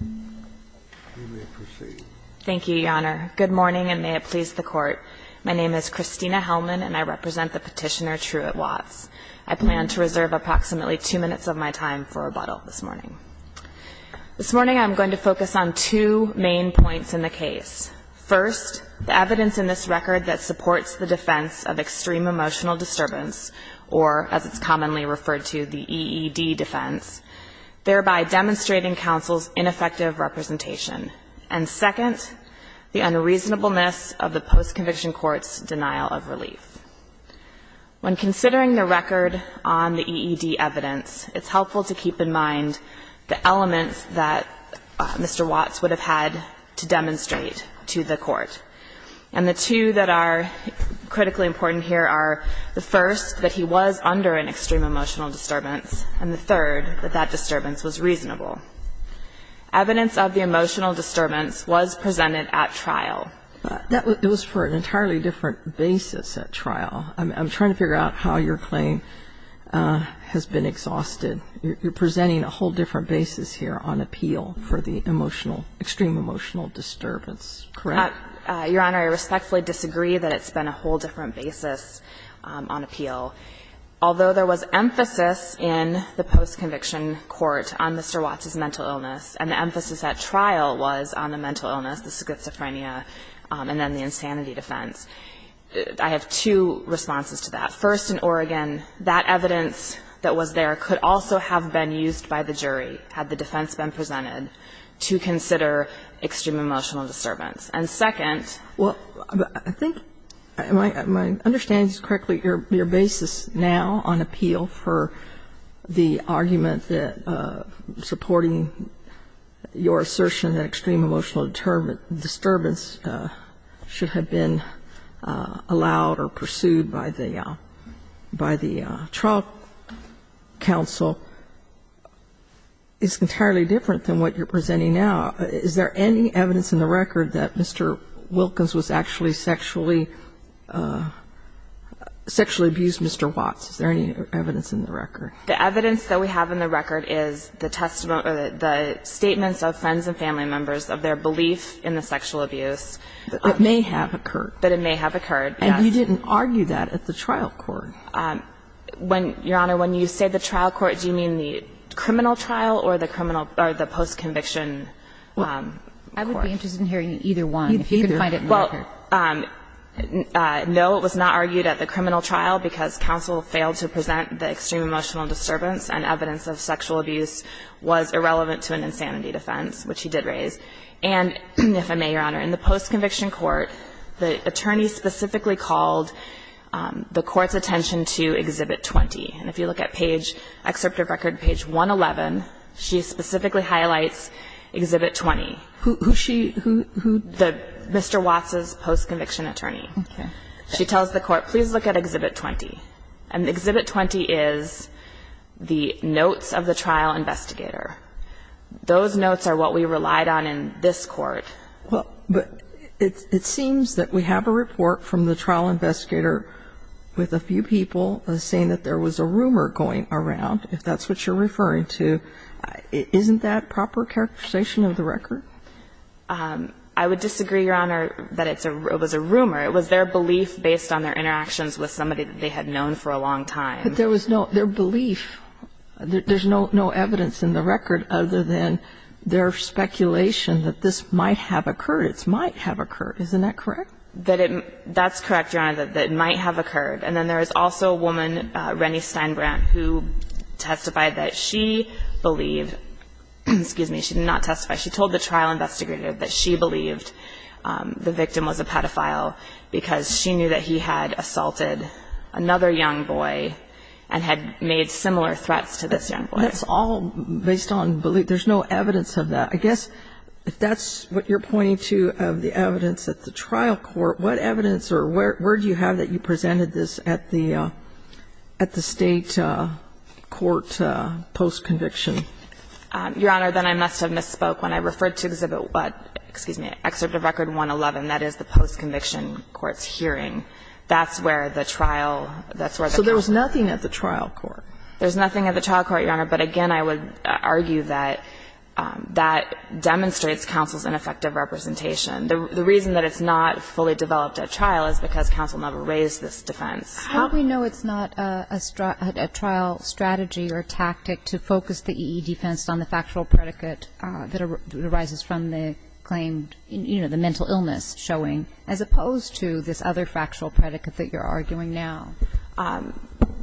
You may proceed. Thank you, Your Honor. Good morning, and may it please the Court. My name is Christina Hellman, and I represent the petitioner Truett Watts. I plan to reserve approximately two minutes of my time for rebuttal this morning. This morning I'm going to focus on two main points in the case. First, the evidence in this record that supports the defense of extreme emotional disturbance, or, as it's commonly referred to, the EED defense, thereby demonstrating counsel's ineffective representation. And second, the unreasonableness of the post-conviction court's denial of relief. When considering the record on the EED evidence, it's helpful to keep in mind the elements that Mr. Watts would have had to demonstrate to the court. And the two that are critically important here are the first, that he was under an extreme emotional disturbance, and the third, that that disturbance was reasonable. Evidence of the emotional disturbance was presented at trial. That was for an entirely different basis at trial. I'm trying to figure out how your claim has been exhausted. You're presenting a whole different basis here on appeal for the emotional, extreme emotional disturbance, correct? Your Honor, I respectfully disagree that it's been a whole different basis on appeal. Although there was emphasis in the post-conviction court on Mr. Watts's mental illness and the emphasis at trial was on the mental illness, the schizophrenia, and then the insanity defense, I have two responses to that. First, in Oregon, that evidence that was there could also have been used by the jury, had the defense been presented, to consider extreme emotional disturbance. And second ---- Am I understanding correctly, your basis now on appeal for the argument that supporting your assertion that extreme emotional disturbance should have been allowed or pursued by the trial counsel is entirely different than what you're presenting now? Is there any evidence in the record that Mr. Wilkins was actually sexually ---- sexually abused Mr. Watts? Is there any evidence in the record? The evidence that we have in the record is the testimony or the statements of friends and family members of their belief in the sexual abuse. It may have occurred. But it may have occurred, yes. And you didn't argue that at the trial court. When, your Honor, when you say the trial court, do you mean the criminal trial or the criminal or the post-conviction court? Well, no, it was not argued at the criminal trial because counsel failed to present the extreme emotional disturbance and evidence of sexual abuse was irrelevant to an insanity defense, which he did raise. And if I may, your Honor, in the post-conviction court, the attorney specifically called the court's attention to Exhibit 20. And if you look at page ---- excerpt of record page 111, she specifically highlights Exhibit 20. Who, who she, who, who? The, Mr. Watts' post-conviction attorney. Okay. She tells the court, please look at Exhibit 20. And Exhibit 20 is the notes of the trial investigator. Those notes are what we relied on in this court. Well, but it seems that we have a report from the trial investigator with a few people saying that there was a rumor going around, if that's what you're referring to. Isn't that proper characterization of the record? I would disagree, Your Honor, that it's a, it was a rumor. It was their belief based on their interactions with somebody that they had known for a long time. But there was no, their belief, there's no, no evidence in the record other than their speculation that this might have occurred. It might have occurred. Isn't that correct? That it, that's correct, Your Honor, that it might have occurred. And then there was also a woman, Rennie Steinbrand, who testified that she believed, excuse me, she did not testify, she told the trial investigator that she believed the victim was a pedophile because she knew that he had assaulted another young boy and had made similar threats to this young boy. That's all based on belief. There's no evidence of that. I guess if that's what you're pointing to of the evidence at the trial court, what evidence or where, where do you have that you presented this at the, at the State court post-conviction? Your Honor, then I must have misspoke. When I referred to Exhibit 1, excuse me, Excerpt of Record 111, that is the post-conviction court's hearing, that's where the trial, that's where the counsel. So there was nothing at the trial court? There's nothing at the trial court, Your Honor, but again, I would argue that that demonstrates counsel's ineffective representation. The reason that it's not fully developed at trial is because counsel never raised this defense. How do we know it's not a trial strategy or tactic to focus the E.E. defense on the factual predicate that arises from the claim, you know, the mental illness showing, as opposed to this other factual predicate that you're arguing now?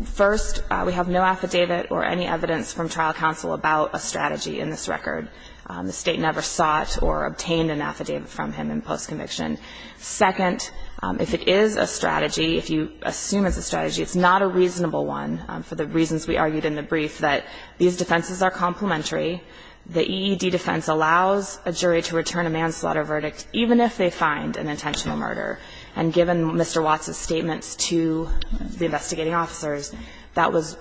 First, we have no affidavit or any evidence from trial counsel about a strategy in this record. The State never sought or obtained an affidavit from him in post-conviction. Second, if it is a strategy, if you assume it's a strategy, it's not a reasonable one for the reasons we argued in the brief, that these defenses are complementary. The E.E.D. defense allows a jury to return a manslaughter verdict even if they find an intentional murder. And given Mr. Watts' statements to the investigating officers, that was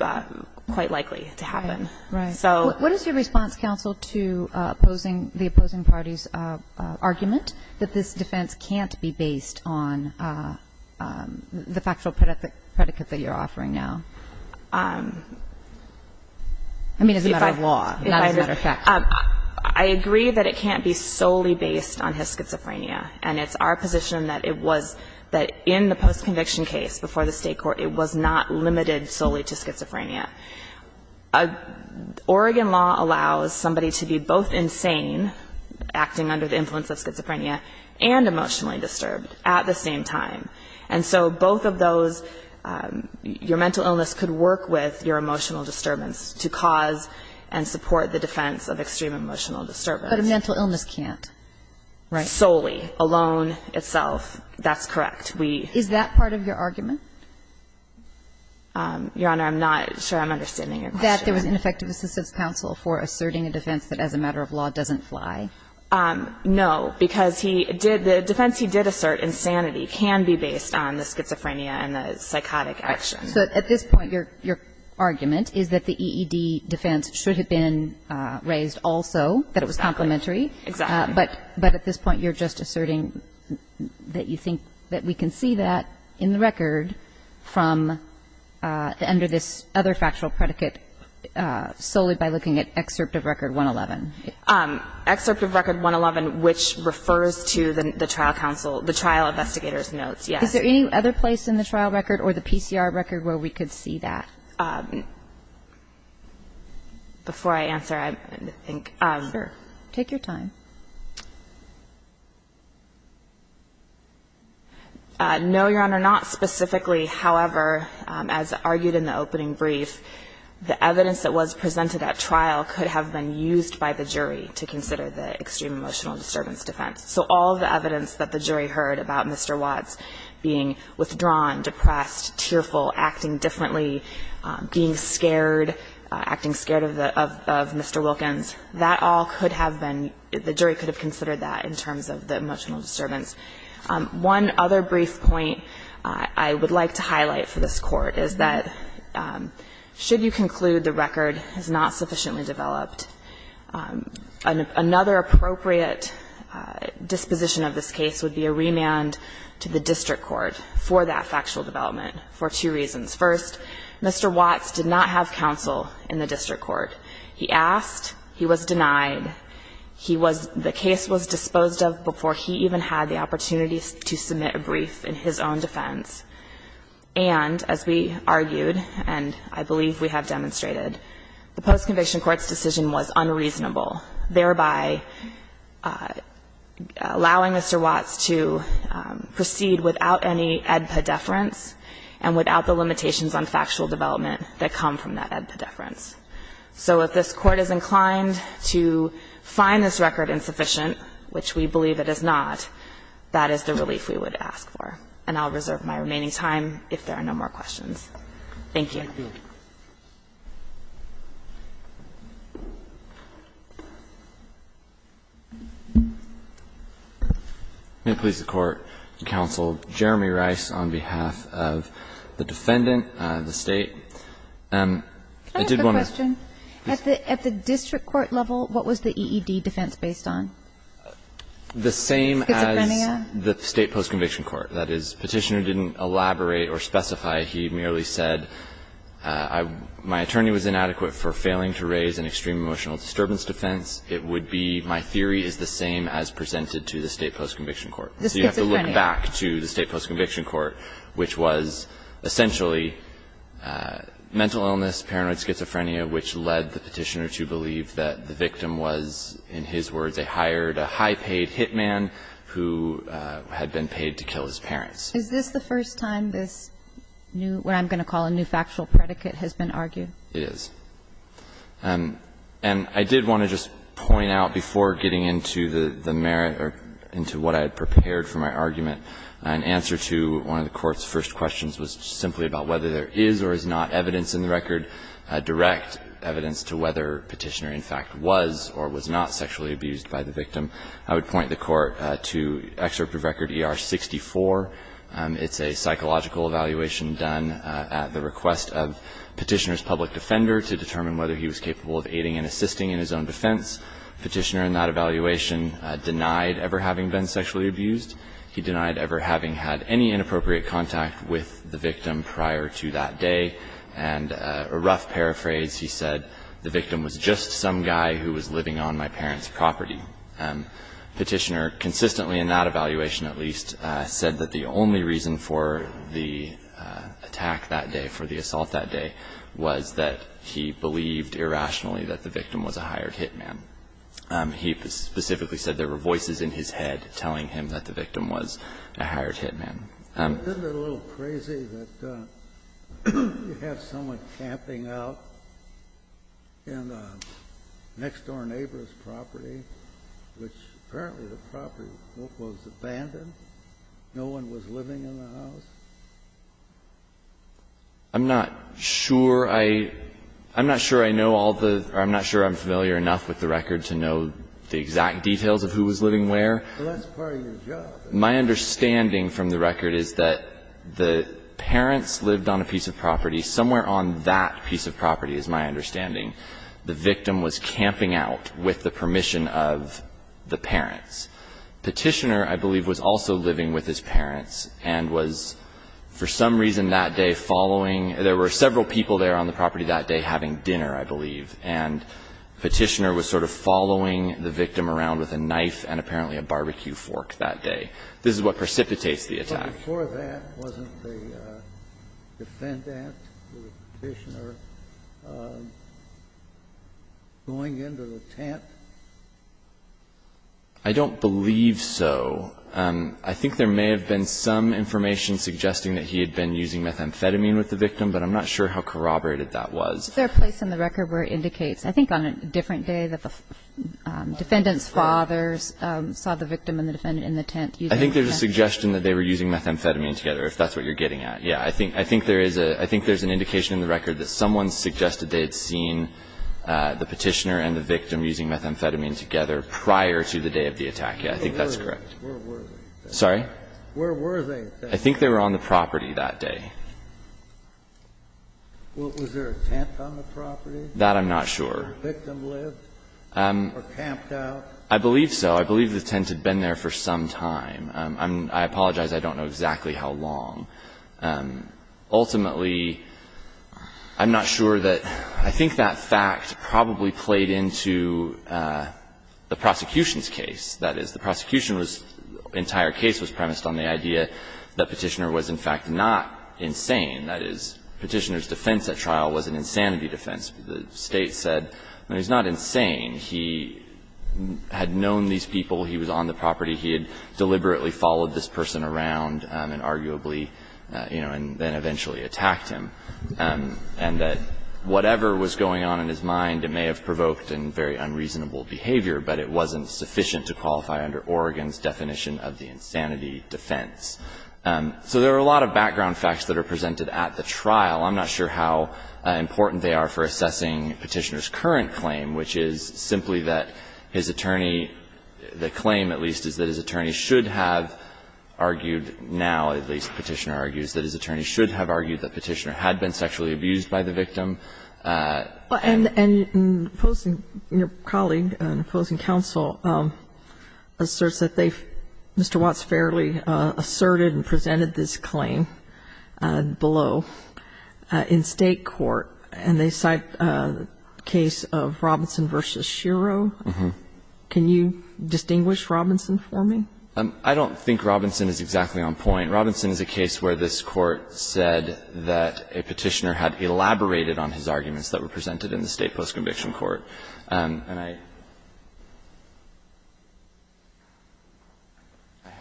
quite likely to happen. Right. What is your response, counsel, to opposing the opposing party's argument that this defense can't be based on the factual predicate that you're offering now? I mean, as a matter of law, not as a matter of fact. I agree that it can't be solely based on his schizophrenia. And it's our position that it was that in the post-conviction case before the State Oregon law allows somebody to be both insane, acting under the influence of schizophrenia, and emotionally disturbed at the same time. And so both of those, your mental illness could work with your emotional disturbance to cause and support the defense of extreme emotional disturbance. But a mental illness can't. Right. Solely, alone, itself. That's correct. Is that part of your argument? Your Honor, I'm not sure I'm understanding your question. That there was ineffective assistance, counsel, for asserting a defense that as a matter of law doesn't fly? No, because he did the defense he did assert, insanity, can be based on the schizophrenia and the psychotic action. So at this point, your argument is that the EED defense should have been raised also, that it was complementary. Exactly. Exactly. But at this point, you're just asserting that you think that we can see that in the trial record from under this other factual predicate solely by looking at excerpt of record 111. Excerpt of record 111, which refers to the trial counsel, the trial investigator's notes, yes. Is there any other place in the trial record or the PCR record where we could see that? Before I answer, I think. Sure. Take your time. No, your Honor, not specifically. However, as argued in the opening brief, the evidence that was presented at trial could have been used by the jury to consider the extreme emotional disturbance defense. So all the evidence that the jury heard about Mr. Watts being withdrawn, depressed, tearful, acting differently, being scared, acting scared of Mr. Wilkins, that all could have been, the jury could have considered that in terms of the emotional disturbance. One other brief point I would like to highlight for this Court is that should you conclude the record is not sufficiently developed, another appropriate disposition of this case would be a remand to the district court for that factual development for two reasons. First, Mr. Watts did not have counsel in the district court. He asked. He was denied. He was the case was disposed of before he even had the opportunity to submit a brief in his own defense. And as we argued, and I believe we have demonstrated, the post-conviction court's decision was unreasonable, thereby allowing Mr. Watts to proceed without any AEDPA deference and without the limitations on factual development that come from that AEDPA deference. So if this Court is inclined to find this record insufficient, which we believe it is not, that is the relief we would ask for. And I'll reserve my remaining time if there are no more questions. Thank you. May it please the Court, Counsel, Jeremy Rice on behalf of the defendant, the State. I did want to ask a question. At the district court level, what was the EED defense based on? Schizophrenia? The same as the State post-conviction court. That is, Petitioner didn't elaborate or specify. He merely said, my attorney was inadequate for failing to raise an extreme emotional disturbance defense. It would be, my theory is the same as presented to the State post-conviction court. So you have to look back to the State post-conviction court, which was essentially mental illness, paranoid schizophrenia, which led the Petitioner to believe that the victim was, in his words, they hired a high-paid hitman who had been paid to kill his parents. Is this the first time this new, what I'm going to call a new factual predicate, has been argued? It is. And I did want to just point out before getting into the merit or into what I had prepared for my argument, an answer to one of the Court's first questions was simply about whether there is or is not evidence in the record, direct evidence to whether Petitioner in fact was or was not sexually abused by the victim. I would point the Court to Excerpt of Record ER-64. It's a psychological evaluation done at the request of Petitioner's public defender to determine whether he was capable of aiding and assisting in his own defense. Petitioner in that evaluation denied ever having been sexually abused. He denied ever having had any inappropriate contact with the victim prior to that day. And a rough paraphrase, he said, the victim was just some guy who was living on my parents' property. Petitioner, consistently in that evaluation at least, said that the only reason for the attack that day, for the assault that day, was that he believed irrationally that the victim was a hired hitman. He specifically said there were voices in his head telling him that the victim was a hired hitman. I'm not sure I know all the or I'm not sure I'm familiar enough with the record to know the exact details of who was living where. Well, that's part of your job. The victim was a hired hitman. The victim was a hired hitman. The other part of the record is that the parents lived on a piece of property. Somewhere on that piece of property is my understanding. The victim was camping out with the permission of the parents. Petitioner, I believe, was also living with his parents and was for some reason that day following. There were several people there on the property that day having dinner, I believe. And Petitioner was sort of following the victim around with a knife and apparently a barbecue fork that day. This is what precipitates the attack. But before that, wasn't the defendant, Petitioner, going into the tent? I don't believe so. I think there may have been some information suggesting that he had been using methamphetamine with the victim, but I'm not sure how corroborated that was. Is there a place in the record where it indicates, I think on a different day that the defendant's father saw the victim and the defendant in the tent using methamphetamine? I think there's a suggestion that they were using methamphetamine together, if that's what you're getting at. Yeah. I think there is a – I think there's an indication in the record that someone suggested they had seen the Petitioner and the victim using methamphetamine together prior to the day of the attack. Yeah. I think that's correct. Where were they? Sorry? Where were they? I think they were on the property that day. Was there a tent on the property? That I'm not sure. Did the victim live or camped out? I believe so. I believe the tent had been there for some time. I apologize. I don't know exactly how long. Ultimately, I'm not sure that – I think that fact probably played into the prosecution's case. That is, the prosecution was – the entire case was premised on the idea that Petitioner was, in fact, not insane. That is, Petitioner's defense at trial was an insanity defense. The State said, well, he's not insane. He had known these people. He was on the property. He had deliberately followed this person around and arguably, you know, and then eventually attacked him, and that whatever was going on in his mind, it may have provoked a very unreasonable behavior, but it wasn't sufficient to qualify under Oregon's definition of the insanity defense. So there are a lot of background facts that are presented at the trial. I'm not sure how important they are for assessing Petitioner's current claim, which is simply that his attorney – the claim, at least, is that his attorney should have argued – now, at least, Petitioner argues that his attorney should have argued that Petitioner had been sexually abused by the victim. And opposing – your colleague in opposing counsel asserts that they – Mr. Watts fairly asserted and presented this claim below in State court, and they cite a case of Robinson v. Shero. Can you distinguish Robinson for me? I don't think Robinson is exactly on point. Robinson is a case where this Court said that a Petitioner had elaborated on his arguments that were presented in the State post-conviction court. And I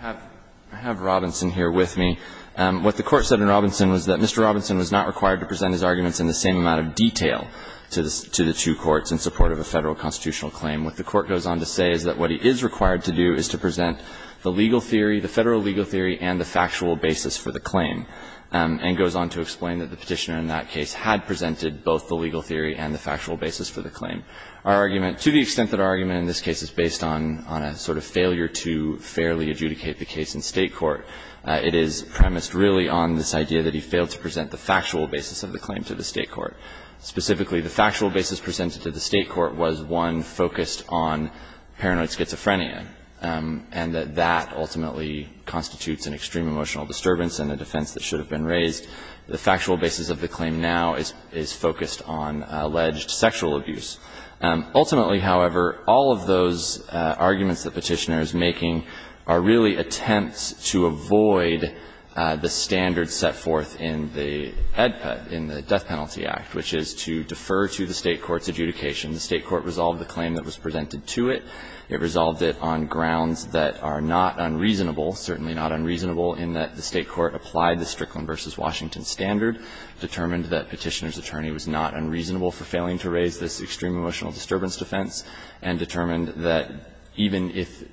have – I have Robinson here with me. What the Court said in Robinson was that Mr. Robinson was not required to present his arguments in the same amount of detail to the two courts in support of a Federal constitutional claim. What the Court goes on to say is that what he is required to do is to present the legal theory, the Federal legal theory, and the factual basis for the claim, and goes on to explain that the Petitioner in that case had presented both the legal theory and the factual basis for the claim. Our argument – to the extent that our argument in this case is based on a sort of failure to fairly adjudicate the case in State court, it is premised really on this idea that he failed to present the factual basis of the claim to the State court. Specifically, the factual basis presented to the State court was, one, focused on paranoid schizophrenia, and that that ultimately constitutes an extreme emotional disturbance and a defense that should have been raised. The factual basis of the claim now is focused on alleged sexual abuse. Ultimately, however, all of those arguments that Petitioner is making are really attempts to avoid the standards set forth in the EDPA, in the Death Penalty Act, which is to defer to the State court's adjudication. The State court resolved the claim that was presented to it. It resolved it on grounds that are not unreasonable, certainly not unreasonable, in that the State court applied the Strickland v. Washington standard, determined that Petitioner's attorney was not unreasonable for failing to raise this extreme emotional disturbance defense, and determined that even if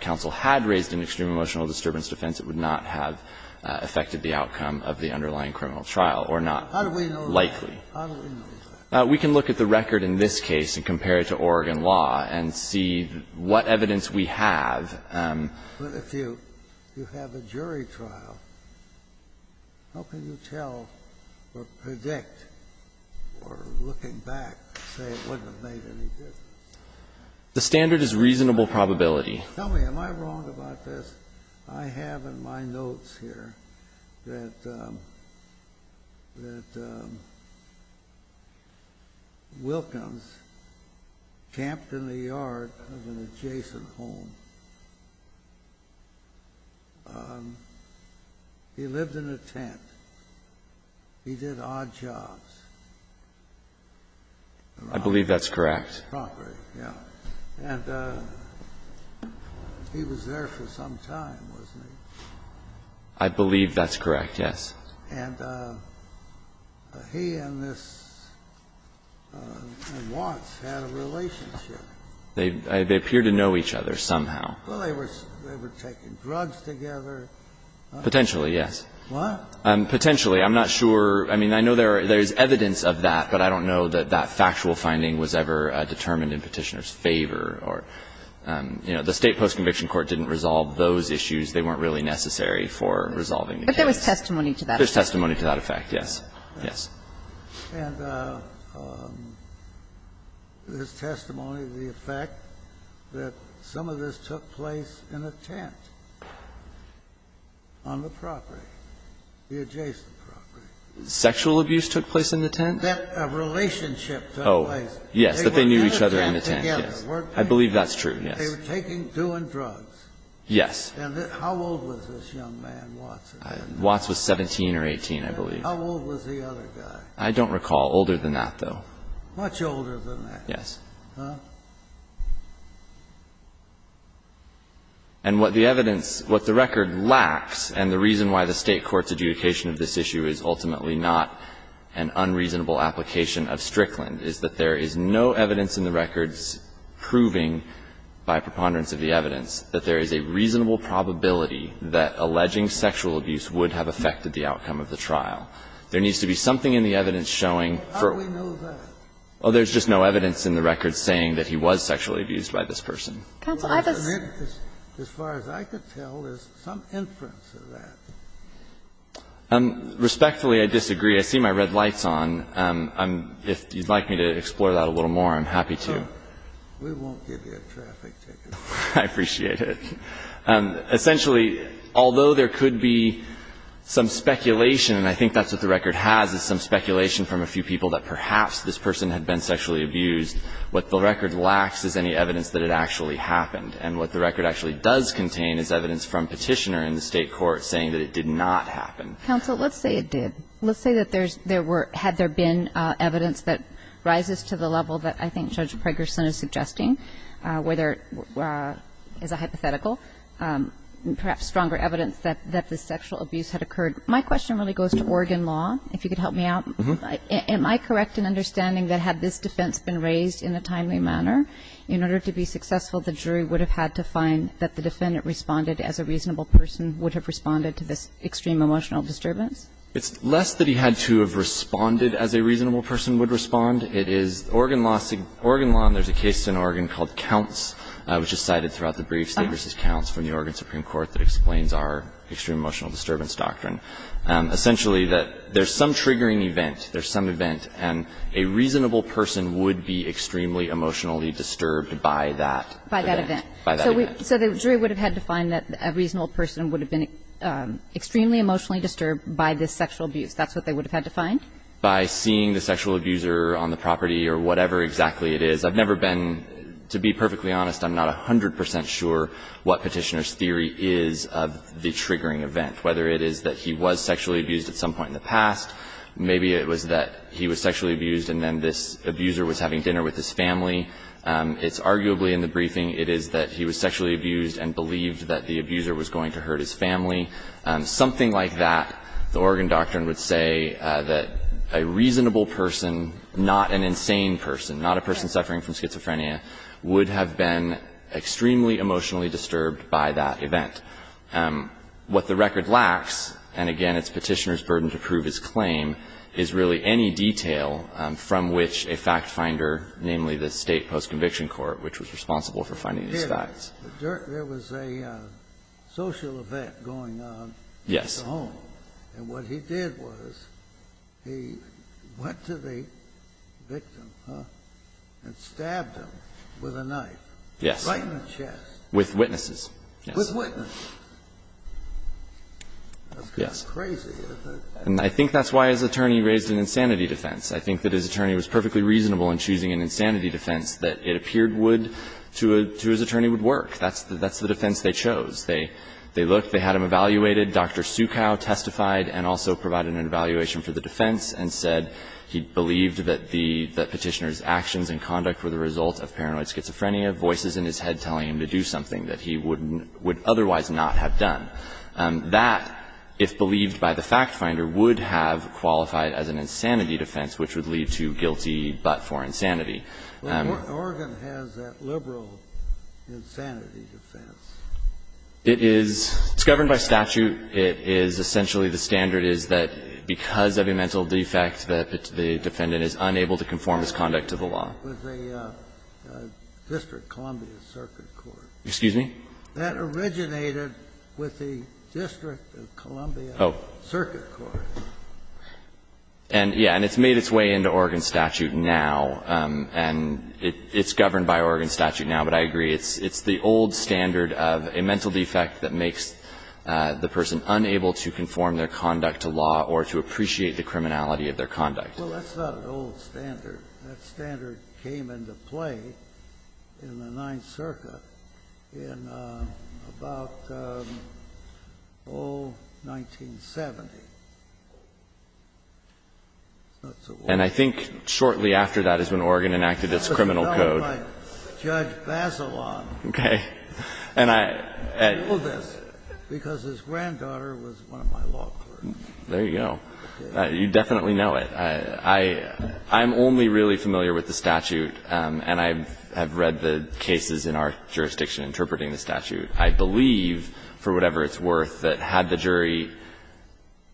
counsel had raised an extreme emotional disturbance defense, it would not have affected the outcome of the underlying criminal trial, or not likely. We can look at the record in this case and compare it to Oregon law and see what evidence we have. But if you have a jury trial, how can you tell or predict or looking back say it wouldn't have made any difference? The standard is reasonable probability. Tell me, am I wrong about this? I have in my notes here that Wilkins camped in the yard of an adjacent home. He lived in a tent. He did odd jobs. I believe that's correct. And he was there for some time, wasn't he? I believe that's correct, yes. And he and this Watts had a relationship. They appear to know each other somehow. Well, they were taking drugs together. Potentially, yes. What? Potentially. I'm not sure. I mean, I know there's evidence of that, but I don't know that that factual finding was ever determined in Petitioner's favor or, you know, the State Post-Conviction Court didn't resolve those issues. They weren't really necessary for resolving the case. But there was testimony to that. There's testimony to that effect, yes. Yes. And there's testimony to the effect that some of this took place in a tent on the property, the adjacent property. Sexual abuse took place in the tent? That relationship took place. Oh, yes, that they knew each other in the tent, yes. They were in a tent together. I believe that's true, yes. They were taking, doing drugs. Yes. And how old was this young man, Watts? Watts was 17 or 18, I believe. And how old was the other guy? I don't recall older than that, though. Much older than that. Yes. Huh? And what the evidence, what the record lacks, and the reason why the State court's reasonable application of Strickland is that there is no evidence in the records proving, by preponderance of the evidence, that there is a reasonable probability that alleging sexual abuse would have affected the outcome of the trial. There needs to be something in the evidence showing for. How do we know that? Oh, there's just no evidence in the record saying that he was sexually abused by this person. Counsel, I just. As far as I could tell, there's some inference of that. Respectfully, I disagree. I see my red lights on. If you'd like me to explore that a little more, I'm happy to. We won't give you a traffic ticket. I appreciate it. Essentially, although there could be some speculation, and I think that's what the record has, is some speculation from a few people that perhaps this person had been sexually abused, what the record lacks is any evidence that it actually happened. And what the record actually does contain is evidence from Petitioner in the State court saying that it did not happen. Counsel, let's say it did. Let's say that there's, there were, had there been evidence that rises to the level that I think Judge Pregerson is suggesting, where there is a hypothetical, perhaps stronger evidence that the sexual abuse had occurred. My question really goes to Oregon law, if you could help me out. Am I correct in understanding that had this defense been raised in a timely manner, in order to be successful, the jury would have had to find that the defendant responded as a reasonable person, would have responded to this extreme emotional disturbance? It's less that he had to have responded as a reasonable person would respond. It is Oregon law, Oregon law, and there's a case in Oregon called Counts, which is cited throughout the brief state versus counts from the Oregon Supreme Court that explains our extreme emotional disturbance doctrine. Essentially, that there's some triggering event, there's some event, and a reasonable person would be extremely emotionally disturbed by that. By that event. By that event. So the jury would have had to find that a reasonable person would have been extremely emotionally disturbed by this sexual abuse. That's what they would have had to find? By seeing the sexual abuser on the property or whatever exactly it is. I've never been, to be perfectly honest, I'm not 100 percent sure what Petitioner's theory is of the triggering event. Whether it is that he was sexually abused at some point in the past, maybe it was that he was sexually abused and then this abuser was having dinner with his family. It's arguably in the briefing, it is that he was sexually abused and believed that the abuser was going to hurt his family. Something like that, the Oregon doctrine would say that a reasonable person, not an insane person, not a person suffering from schizophrenia, would have been extremely emotionally disturbed by that event. What the record lacks, and again, it's Petitioner's burden to prove his claim, is really any detail from which a fact finder, namely the State Post-Conviction Court, which was responsible for finding these facts. There was a social event going on at the home. Yes. And what he did was he went to the victim and stabbed him with a knife. Yes. Right in the chest. With witnesses. With witnesses. Yes. That's kind of crazy. And I think that's why his attorney raised an insanity defense. I think that his attorney was perfectly reasonable in choosing an insanity defense that it appeared would, to his attorney, would work. That's the defense they chose. They looked, they had him evaluated. Dr. Sukow testified and also provided an evaluation for the defense and said he believed that the Petitioner's actions and conduct were the result of paranoid schizophrenia, voices in his head telling him to do something that he would otherwise not have done. That, if believed by the fact finder, would have qualified as an insanity defense, which would lead to guilty but for insanity. Well, Oregon has that liberal insanity defense. It is. It's governed by statute. It is essentially the standard is that because of a mental defect that the defendant is unable to conform his conduct to the law. With the District of Columbia Circuit Court. Excuse me? That originated with the District of Columbia Circuit Court. Oh. And, yeah, and it's made its way into Oregon statute now, and it's governed by Oregon statute now, but I agree. It's the old standard of a mental defect that makes the person unable to conform their conduct to law or to appreciate the criminality of their conduct. Well, that's not an old standard. That standard came into play in the Ninth Circuit in about 1970. It's not so old. And I think shortly after that is when Oregon enacted its criminal code. It was done by Judge Bazelon. Okay. He ruled this because his granddaughter was one of my law clerks. There you go. You definitely know it. I'm only really familiar with the statute, and I have read the cases in our jurisdiction interpreting the statute. I believe, for whatever it's worth, that had the jury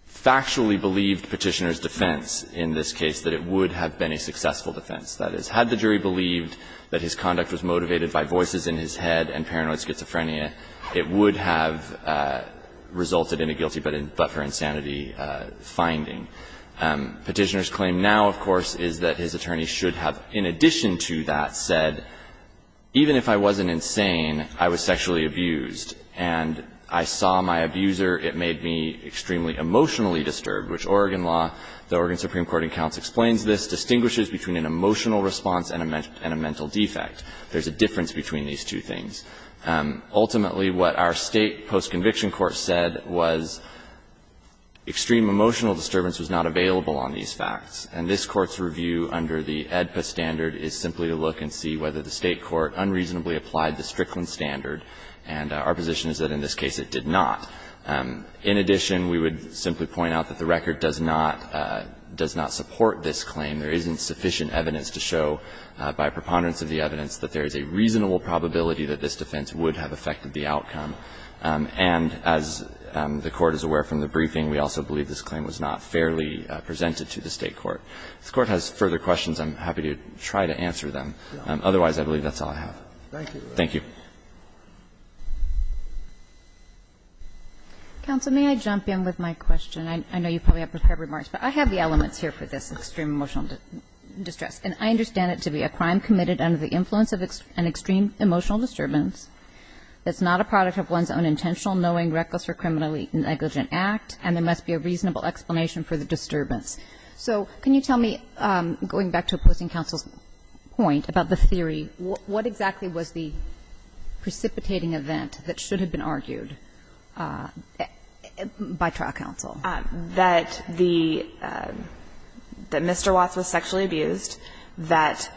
factually believed Petitioner's defense in this case, that it would have been a successful defense. That is, had the jury believed that his conduct was motivated by voices in his head and paranoid schizophrenia, it would have resulted in a guilty but for insanity finding. Petitioner's claim now, of course, is that his attorney should have, in addition to that, said, even if I wasn't insane, I was sexually abused, and I saw my abuser, it made me extremely emotionally disturbed, which Oregon law, the Oregon Supreme Court and counts explains this, distinguishes between an emotional response and a mental defect. There's a difference between these two things. Ultimately, what our State post-conviction court said was extreme emotional disturbance was not available on these facts. And this Court's review under the AEDPA standard is simply to look and see whether the State court unreasonably applied the Strickland standard, and our position is that in this case it did not. In addition, we would simply point out that the record does not support this claim. There isn't sufficient evidence to show by preponderance of the evidence that there is a reasonable probability that this defense would have affected the outcome. And as the Court is aware from the briefing, we also believe this claim was not fairly presented to the State court. If the Court has further questions, I'm happy to try to answer them. Otherwise, I believe that's all I have. Thank you. Counsel, may I jump in with my question? I know you probably have prepared remarks, but I have the elements here for this extreme emotional distress, and I understand it to be a crime committed under the knowing reckless or criminally negligent act, and there must be a reasonable explanation for the disturbance. So can you tell me, going back to opposing counsel's point about the theory, what exactly was the precipitating event that should have been argued by trial counsel? That the Mr. Watts was sexually abused, that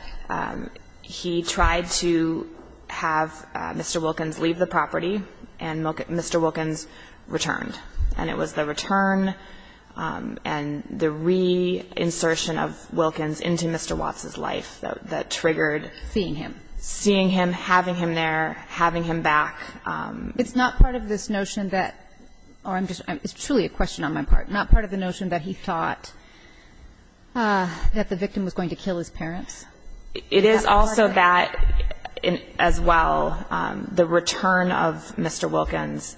he tried to have Mr. Wilkins leave the property, and Mr. Wilkins returned. And it was the return and the reinsertion of Wilkins into Mr. Watts' life that triggered Seeing him. Seeing him, having him there, having him back. It's not part of this notion that, or it's truly a question on my part, not part of the notion that he thought that the victim was going to kill his parents? It is also that, as well, the return of Mr. Wilkins,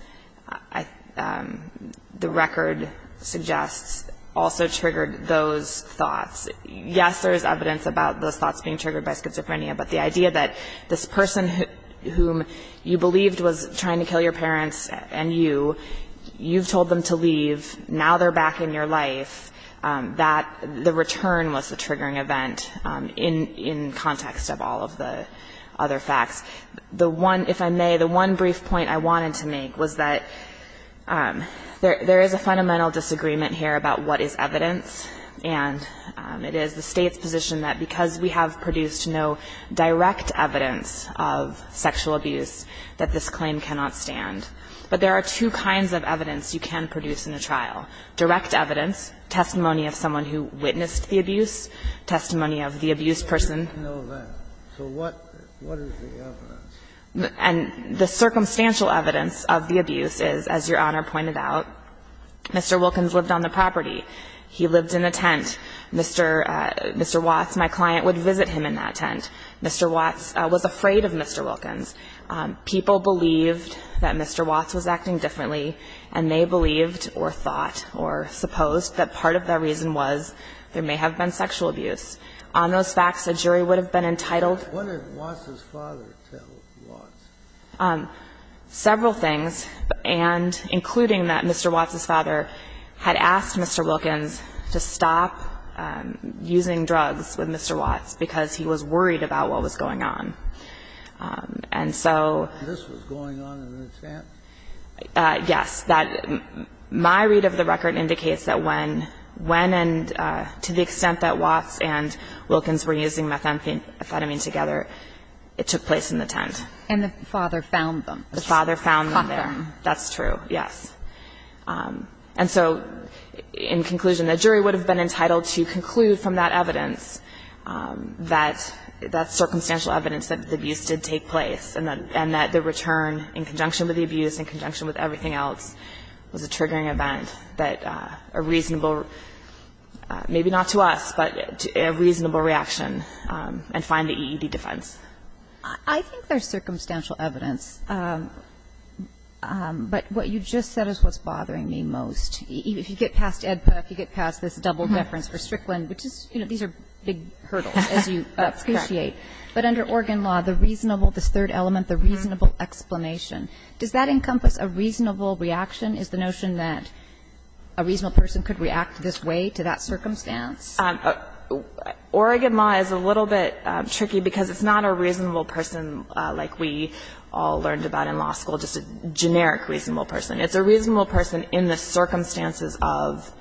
the record suggests, also triggered those thoughts. Yes, there is evidence about those thoughts being triggered by schizophrenia, but the idea that this person whom you believed was trying to kill your parents and you, you've told them to leave, now they're back in your life, that the return was a in context of all of the other facts. The one, if I may, the one brief point I wanted to make was that there is a fundamental disagreement here about what is evidence, and it is the State's position that because we have produced no direct evidence of sexual abuse, that this claim cannot stand. But there are two kinds of evidence you can produce in a trial. Direct evidence, testimony of someone who witnessed the abuse, testimony of the abused person. I didn't know that. So what is the evidence? And the circumstantial evidence of the abuse is, as Your Honor pointed out, Mr. Wilkins lived on the property. He lived in a tent. Mr. Watts, my client, would visit him in that tent. Mr. Watts was afraid of Mr. Wilkins. People believed that Mr. Watts was acting differently, and they believed or thought or supposed that part of that reason was there may have been sexual abuse. On those facts, a jury would have been entitled. What did Watts' father tell Watts? Several things, and including that Mr. Watts' father had asked Mr. Wilkins to stop using drugs with Mr. Watts because he was worried about what was going on. And so this was going on in a tent? Yes. My read of the record indicates that when and to the extent that Watts and Wilkins were using methamphetamine together, it took place in the tent. And the father found them. The father found them there. Caught them. That's true, yes. And so in conclusion, the jury would have been entitled to conclude from that evidence that that circumstantial evidence that the abuse did take place and that the return in conjunction with the abuse, in conjunction with everything else, was a triggering event that a reasonable, maybe not to us, but a reasonable reaction, and find the EED defense. I think there's circumstantial evidence, but what you just said is what's bothering me most. If you get past EDPA, if you get past this double deference for Strickland, which is, you know, these are big hurdles as you appreciate. But under Oregon law, the reasonable, this third element, the reasonable explanation, does that encompass a reasonable reaction? Is the notion that a reasonable person could react this way to that circumstance? Oregon law is a little bit tricky because it's not a reasonable person like we all learned about in law school, just a generic reasonable person. It's a reasonable person in the circumstances of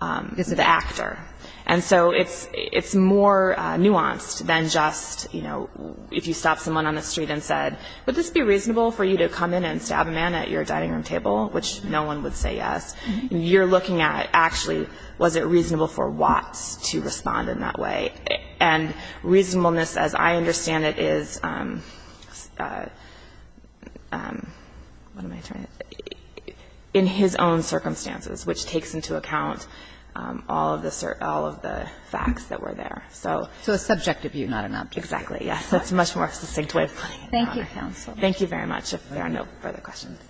the actor. And so it's more nuanced than just, you know, if you stopped someone on the street and said, would this be reasonable for you to come in and stab a man at your dining room table, which no one would say yes. You're looking at, actually, was it reasonable for Watts to respond in that way? And reasonableness, as I understand it, is, what am I trying to say, in his own terms, is reasonable. So I think it's a very broad notion, and I think it's important for all of the facts that were there. So. Kagan. So a subjective view, not an object view. Exactly. Yes. It's a much more succinct way of putting it. Thank you, counsel. Thank you very much. If there are no further questions.